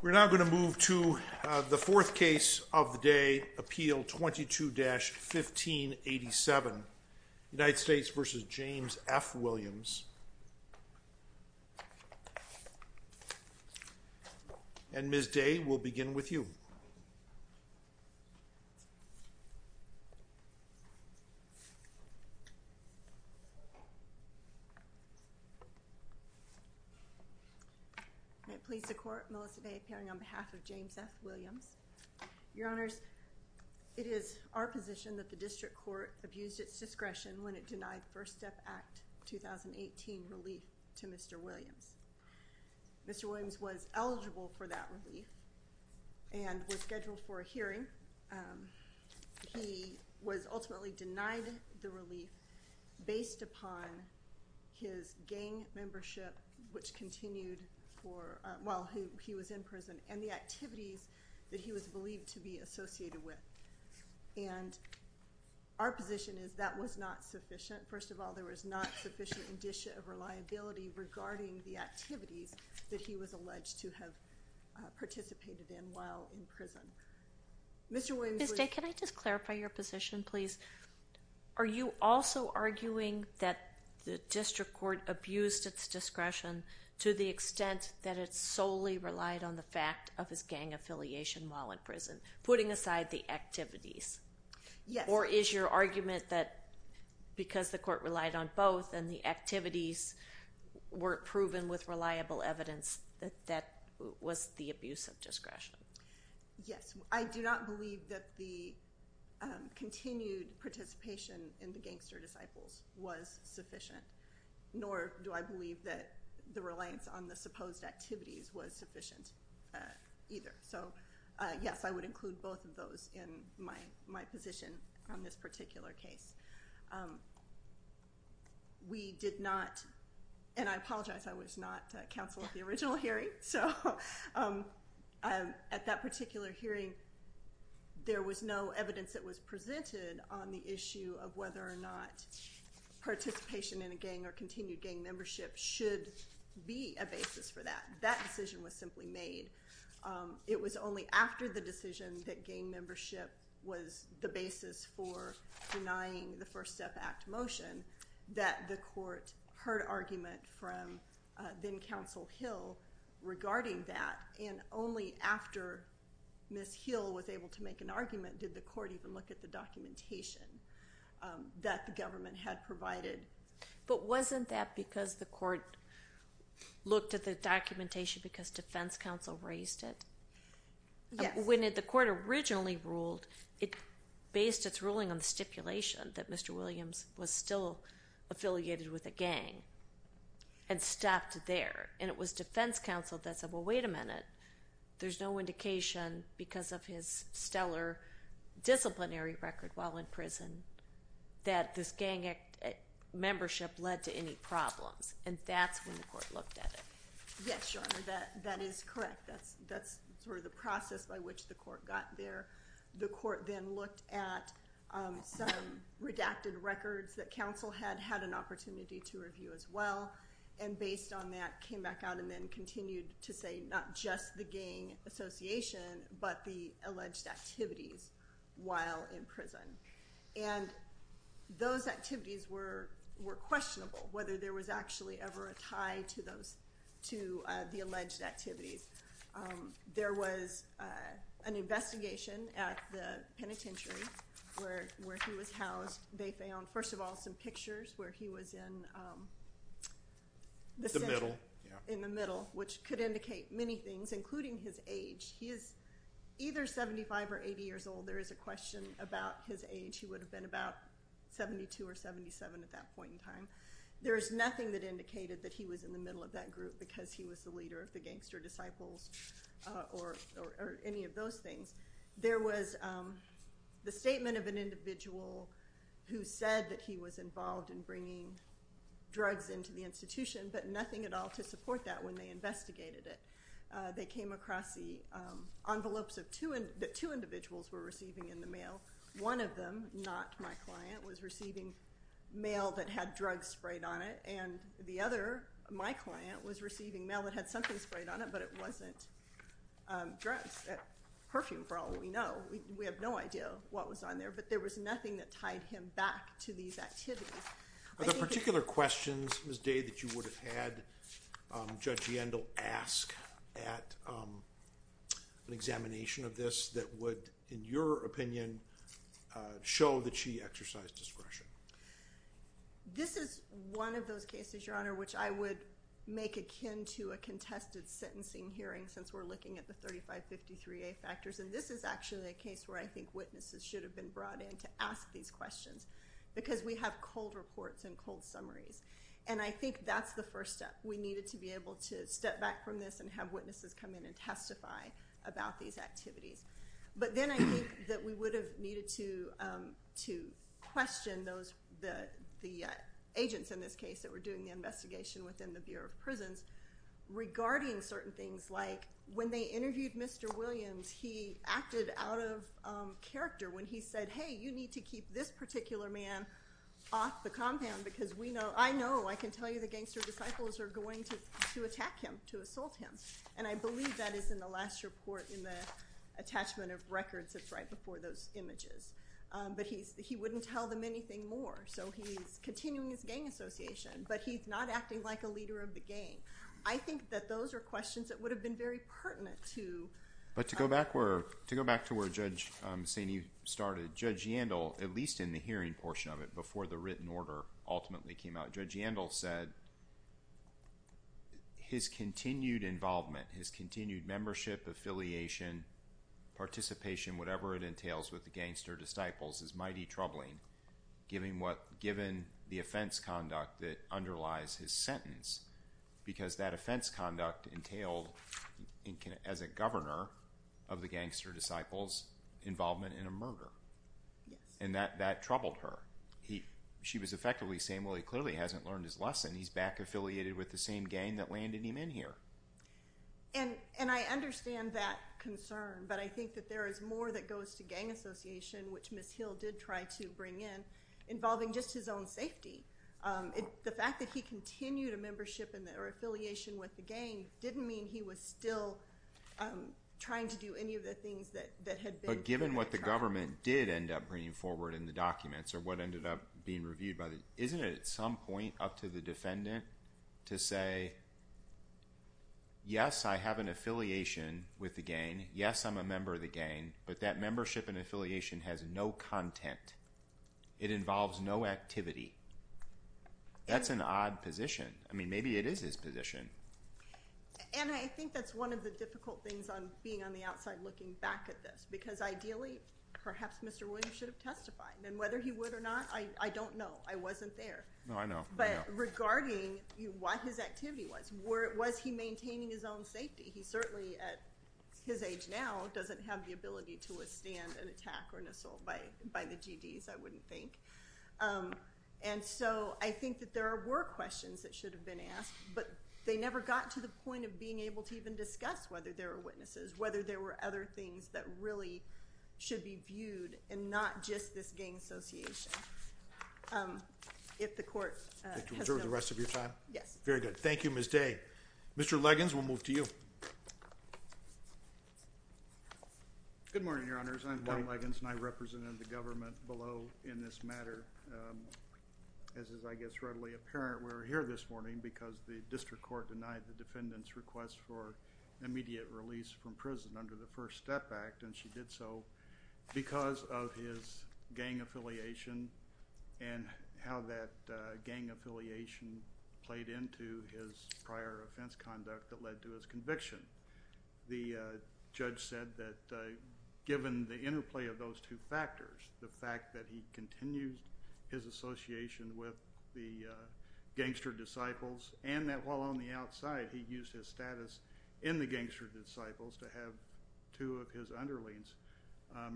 We're now going to move to the fourth case of the day, appeal 22-1587, United States v. James F. Williams. And Ms. Day will begin with you. May it please the Court, Melissa Day appearing on behalf of James F. Williams. Your Honors, it is our position that the District Court abused its discretion when it denied First Step Act 2018 relief to Mr. Williams. Mr. Williams was eligible for that relief and was scheduled for a hearing. He was ultimately denied the relief based upon his gang membership, which continued while he was in prison, and the activities that he was believed to be associated with. And our position is that was not sufficient. First of all, there was not sufficient indicia of reliability regarding the activities that he was alleged to have participated in while in prison. Ms. Day, can I just clarify your position, please? Are you also arguing that the District Court abused its discretion to the extent that it solely relied on the fact of his gang affiliation while in prison, putting aside the activities? Yes. Or is your argument that because the Court relied on both and the activities weren't proven with reliable evidence, that that was the abuse of discretion? Yes. I do not believe that the continued participation in the gangster disciples was sufficient, nor do I believe that the reliance on the supposed activities was sufficient either. So, yes, I would include both of those in my position on this particular case. We did not, and I apologize, I was not counsel at the original hearing, so at that particular hearing, there was no evidence that was presented on the issue of whether or not participation in a gang or continued gang membership should be a basis for that. That decision was simply made. It was only after the decision that gang membership was the basis for denying the First Step Act motion that the Court heard argument from then-Counsel Hill regarding that, and only after Ms. Hill was able to make an argument did the Court even look at the documentation that the government had provided. But wasn't that because the Court looked at the documentation because Defense Counsel raised it? Yes. When the Court originally ruled, it based its ruling on the stipulation that Mr. Williams was still affiliated with a gang and stopped there, and it was Defense Counsel that said, well, wait a minute, there's no indication because of his stellar disciplinary record while in prison that this gang membership led to any problems, and that's when the Court looked at it. Yes, Your Honor, that is correct. That's sort of the process by which the Court got there. The Court then looked at some redacted records that counsel had had an opportunity to review as well, and based on that came back out and then continued to say not just the gang association but the alleged activities while in prison. And those activities were questionable, whether there was actually ever a tie to the alleged activities. There was an investigation at the penitentiary where he was housed. They found, first of all, some pictures where he was in the center, in the middle, which could indicate many things, including his age. He is either 75 or 80 years old. There is a question about his age. He would have been about 72 or 77 at that point in time. There is nothing that indicated that he was in the middle of that group because he was the leader of the gangster disciples or any of those things. There was the statement of an individual who said that he was involved in bringing drugs into the institution, but nothing at all to support that when they investigated it. They came across the envelopes that two individuals were receiving in the mail. One of them, not my client, was receiving mail that had drugs sprayed on it, and the other, my client, was receiving mail that had something sprayed on it, but it wasn't drugs. Perfume, for all we know. We have no idea what was on there, but there was nothing that tied him back to these activities. Are there particular questions, Ms. Day, that you would have had Judge Yandel ask at an examination of this that would, in your opinion, show that she exercised discretion? This is one of those cases, Your Honor, which I would make akin to a contested sentencing hearing since we're looking at the 3553A factors, and this is actually a case where I think witnesses should have been brought in to ask these questions because we have cold reports and cold summaries, and I think that's the first step. We needed to be able to step back from this and have witnesses come in and testify about these activities. But then I think that we would have needed to question the agents in this case that were doing the investigation within the Bureau of Prisons regarding certain things, like when they interviewed Mr. Williams, he acted out of character when he said, hey, you need to keep this particular man off the compound because we know, I know, I can tell you the gangster disciples are going to attack him, to assault him, and I believe that is in the last report in the attachment of records that's right before those images. But he wouldn't tell them anything more, so he's continuing his gang association, but he's not acting like a leader of the gang. I think that those are questions that would have been very pertinent to— Judge Yandel, at least in the hearing portion of it, before the written order ultimately came out, Judge Yandel said his continued involvement, his continued membership, affiliation, participation, whatever it entails with the gangster disciples is mighty troubling, given the offense conduct that underlies his sentence, because that offense conduct entailed, as a governor of the gangster disciples, involvement in a murder. And that troubled her. She was effectively saying, well, he clearly hasn't learned his lesson. He's back affiliated with the same gang that landed him in here. And I understand that concern, but I think that there is more that goes to gang association, which Ms. Hill did try to bring in, involving just his own safety. The fact that he continued a membership or affiliation with the gang didn't mean he was still trying to do any of the things that had been— But given what the government did end up bringing forward in the documents, or what ended up being reviewed by the—isn't it at some point up to the defendant to say, yes, I have an affiliation with the gang, yes, I'm a member of the gang, but that membership and affiliation has no content. It involves no activity. That's an odd position. I mean, maybe it is his position. And I think that's one of the difficult things on being on the outside looking back at this, because ideally, perhaps Mr. Williams should have testified. And whether he would or not, I don't know. I wasn't there. No, I know. But regarding what his activity was, was he maintaining his own safety? He certainly, at his age now, doesn't have the ability to withstand an attack or an assault by the GDs, I wouldn't think. And so I think that there were questions that should have been asked, but they never got to the point of being able to even discuss whether there were witnesses, whether there were other things that really should be viewed and not just this gang association. If the court has no— Did you reserve the rest of your time? Yes. Very good. Thank you, Ms. Day. Mr. Liggins, we'll move to you. Good morning, Your Honors. I'm Don Liggins, and I represented the government below in this matter. As is, I guess, readily apparent, we're here this morning because the district court denied the defendant's request for immediate release from prison under the First Step Act, and she did so because of his gang affiliation and how that gang affiliation played into his prior offense conduct that led to his conviction. The judge said that given the interplay of those two factors, the fact that he continues his association with the gangster disciples and that while on the outside he used his status in the gangster disciples to have two of his underlings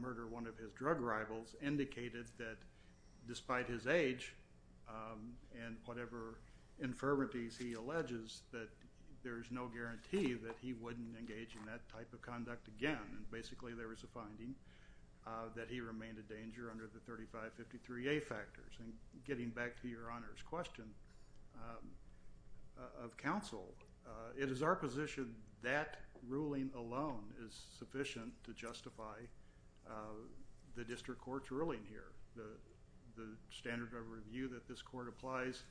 murder one of his drug rivals indicated that despite his age and whatever infirmities he alleges, that there is no guarantee that he wouldn't engage in that type of conduct again. Basically, there was a finding that he remained a danger under the 3553A factors. And getting back to Your Honor's question of counsel, it is our position that ruling alone is sufficient to justify the district court's ruling here. The standard of review that this court applies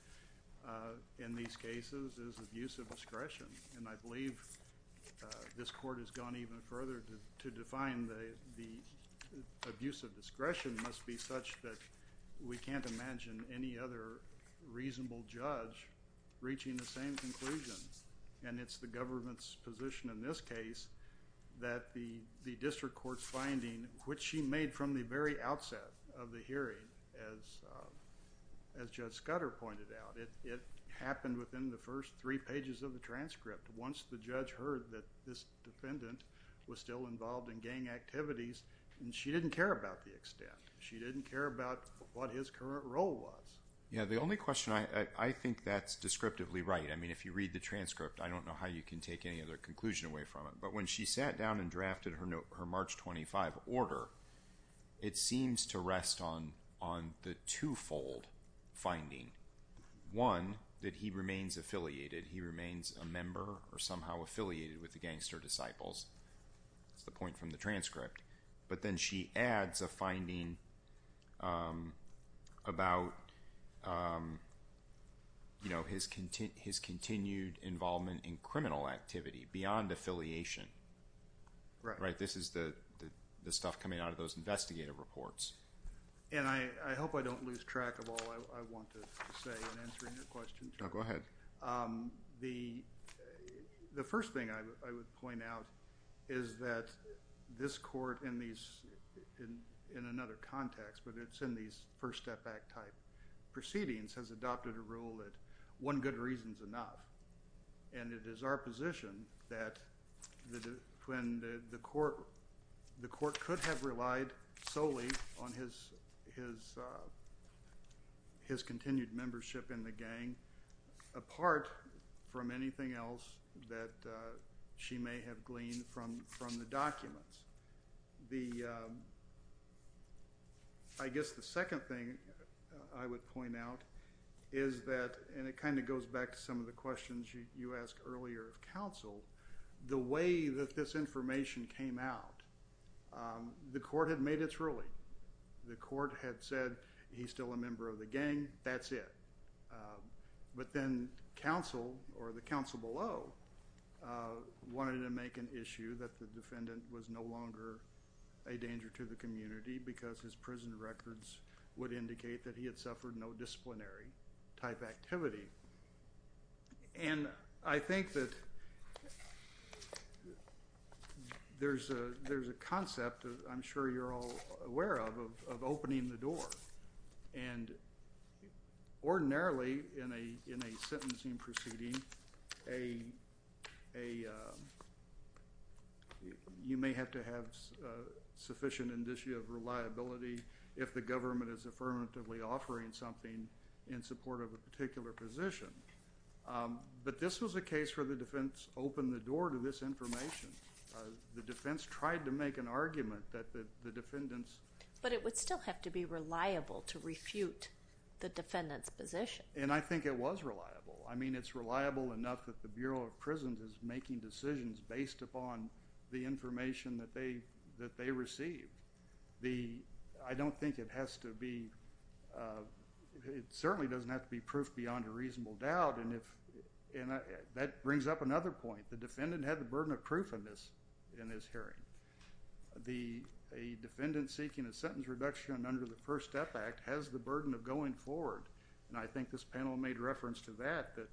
in these cases is abuse of discretion, and I believe this court has gone even further to define the abuse of discretion must be such that we can't imagine any other reasonable judge reaching the same conclusion. And it's the government's position in this case that the district court's finding, which she made from the very outset of the hearing as Judge Scudder pointed out, it happened within the first three pages of the transcript. Once the judge heard that this defendant was still involved in gang activities, and she didn't care about the extent. She didn't care about what his current role was. Yeah, the only question, I think that's descriptively right. I mean, if you read the transcript, I don't know how you can take any other conclusion away from it. But when she sat down and drafted her March 25 order, it seems to rest on the twofold finding. One, that he remains affiliated. He remains a member or somehow affiliated with the gangster disciples. That's the point from the transcript. But then she adds a finding about his continued involvement in criminal activity beyond affiliation. Right? This is the stuff coming out of those investigative reports. And I hope I don't lose track of all I want to say in answering your questions. No, go ahead. The first thing I would point out is that this court in another context, but it's in these first step back type proceedings, has adopted a rule that one good reason is enough. And it is our position that when the court could have relied solely on his continued membership in the gang, apart from anything else that she may have gleaned from the documents. I guess the second thing I would point out is that, and it kind of goes back to some of the questions you asked earlier of counsel, the way that this information came out, the court had made its ruling. The court had said he's still a member of the gang. That's it. But then counsel or the counsel below wanted to make an issue that the defendant was no longer a danger to the community because his prison records would indicate that he had suffered no disciplinary type activity. And I think that there's a concept that I'm sure you're all aware of, of opening the door. And ordinarily in a sentencing proceeding, you may have to have sufficient indicia of reliability if the government is affirmatively offering something in support of a particular position. But this was a case where the defense opened the door to this information. The defense tried to make an argument that the defendants. But it would still have to be reliable to refute the defendant's position. And I think it was reliable. I mean, it's reliable enough that the Bureau of Prisons is making decisions based upon the information that they received. I don't think it has to be, it certainly doesn't have to be proof beyond a reasonable doubt. And that brings up another point. The defendant had the burden of proof in this hearing. A defendant seeking a sentence reduction under the First Step Act has the burden of going forward. And I think this panel made reference to that, that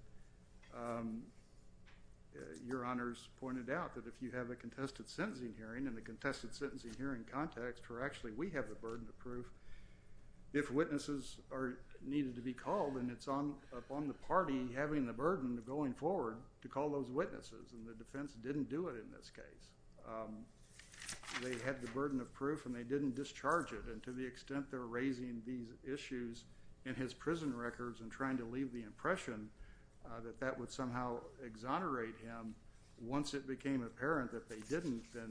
Your Honors pointed out, that if you have a contested sentencing hearing, in the contested sentencing hearing context, where actually we have the burden of proof, if witnesses are needed to be called, then it's upon the party having the burden of going forward to call those witnesses. And the defense didn't do it in this case. They had the burden of proof and they didn't discharge it. And to the extent they're raising these issues in his prison records and trying to leave the impression that that would somehow exonerate him, once it became apparent that they didn't, then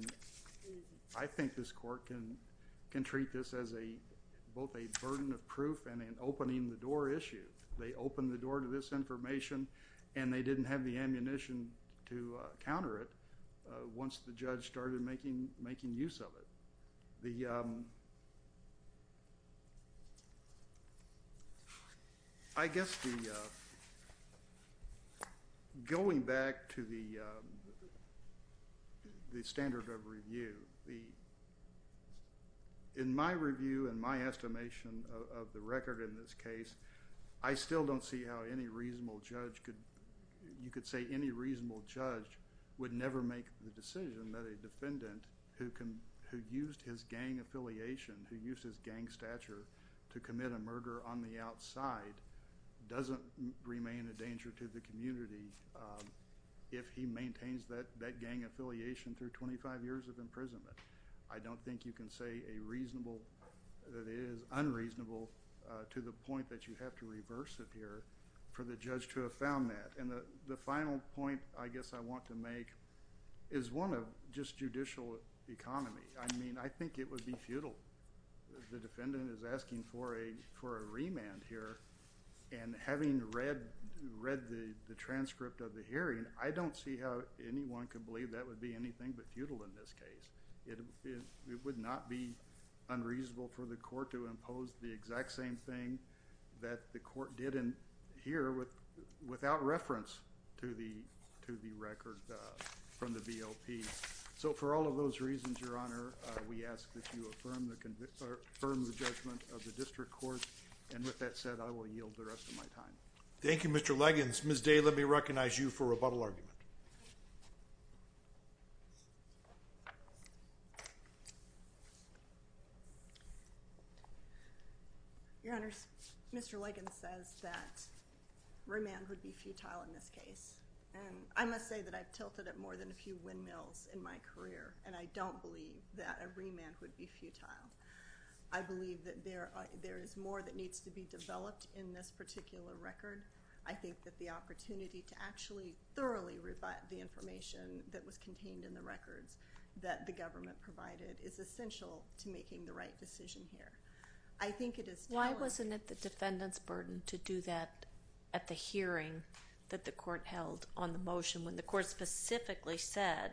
I think this court can treat this as both a burden of proof and an opening the door issue. They opened the door to this information and they didn't have the ammunition to counter it once the judge started making use of it. The, I guess the, going back to the standard of review, in my review and my estimation of the record in this case, I still don't see how any reasonable judge could, you could say any reasonable judge would never make the decision that a defendant who used his gang affiliation, who used his gang stature to commit a murder on the outside, doesn't remain a danger to the community if he maintains that gang affiliation through 25 years of imprisonment. I don't think you can say a reasonable, that it is unreasonable to the point that you have to reverse it here for the judge to have found that. And the final point I guess I want to make is one of just judicial economy. I mean, I think it would be futile. The defendant is asking for a remand here and having read the transcript of the hearing, I don't see how anyone could believe that would be anything but futile in this case. It would not be unreasonable for the court to impose the exact same thing that the court did here without reference to the record from the BLP. So for all of those reasons, Your Honor, we ask that you affirm the judgment of the district court. And with that said, I will yield the rest of my time. Thank you, Mr. Liggins. Ms. Day, let me recognize you for rebuttal argument. Your Honor, Mr. Liggins says that remand would be futile in this case. And I must say that I've tilted it more than a few windmills in my career, and I don't believe that a remand would be futile. I believe that there is more that needs to be developed in this particular record. I think that the opportunity to actually thoroughly rebut the information that was contained in the records that the government provided is essential to making the right decision here. I think it is telling. Why wasn't it the defendant's burden to do that at the hearing that the court held on the motion when the court specifically said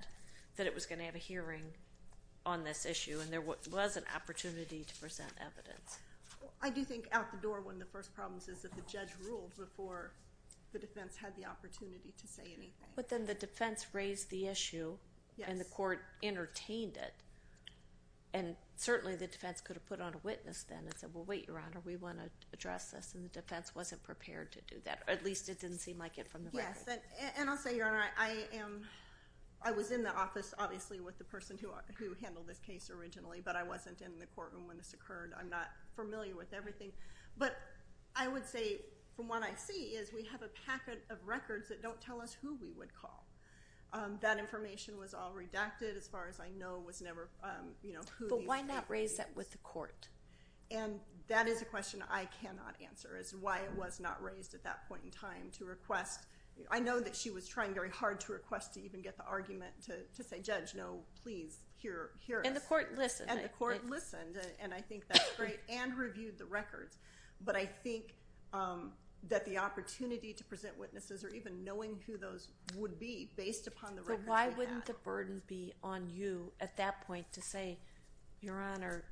that it was going to have a hearing on this issue and there was an opportunity to present evidence? I do think out the door one of the first problems is that the judge ruled before the defense had the opportunity to say anything. But then the defense raised the issue and the court entertained it. And certainly the defense could have put on a witness then and said, well, wait, Your Honor, we want to address this. And the defense wasn't prepared to do that, or at least it didn't seem like it from the record. I'm not familiar with the person who handled this case originally, but I wasn't in the courtroom when this occurred. I'm not familiar with everything. But I would say from what I see is we have a packet of records that don't tell us who we would call. That information was all redacted as far as I know. But why not raise that with the court? That is a question I cannot answer, is why it was not raised at that point in time to request. I know that she was trying very hard to request to even get the argument to say, Judge, no, please, hear us. And the court listened. And the court listened, and I think that's great, and reviewed the records. But I think that the opportunity to present witnesses or even knowing who those would be based upon the records we had. So why wouldn't the burden be on you at that point to say, Your Honor,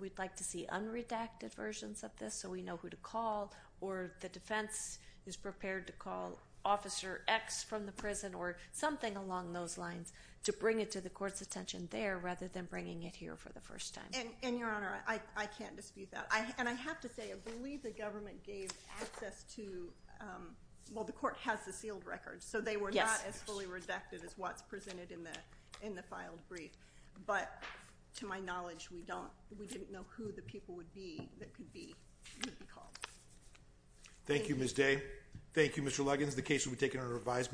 we'd like to see unredacted versions of this so we know who to call or the defense is prepared to call Officer X from the prison or something along those lines to bring it to the court's attention there rather than bringing it here for the first time. And, Your Honor, I can't dispute that. And I have to say I believe the government gave access to well, the court has the sealed records, so they were not as fully redacted as what's presented in the filed brief. But to my knowledge, we didn't know who the people would be that could be called. Thank you, Ms. Day. Thank you, Mr. Luggins. The case will be taken under revised.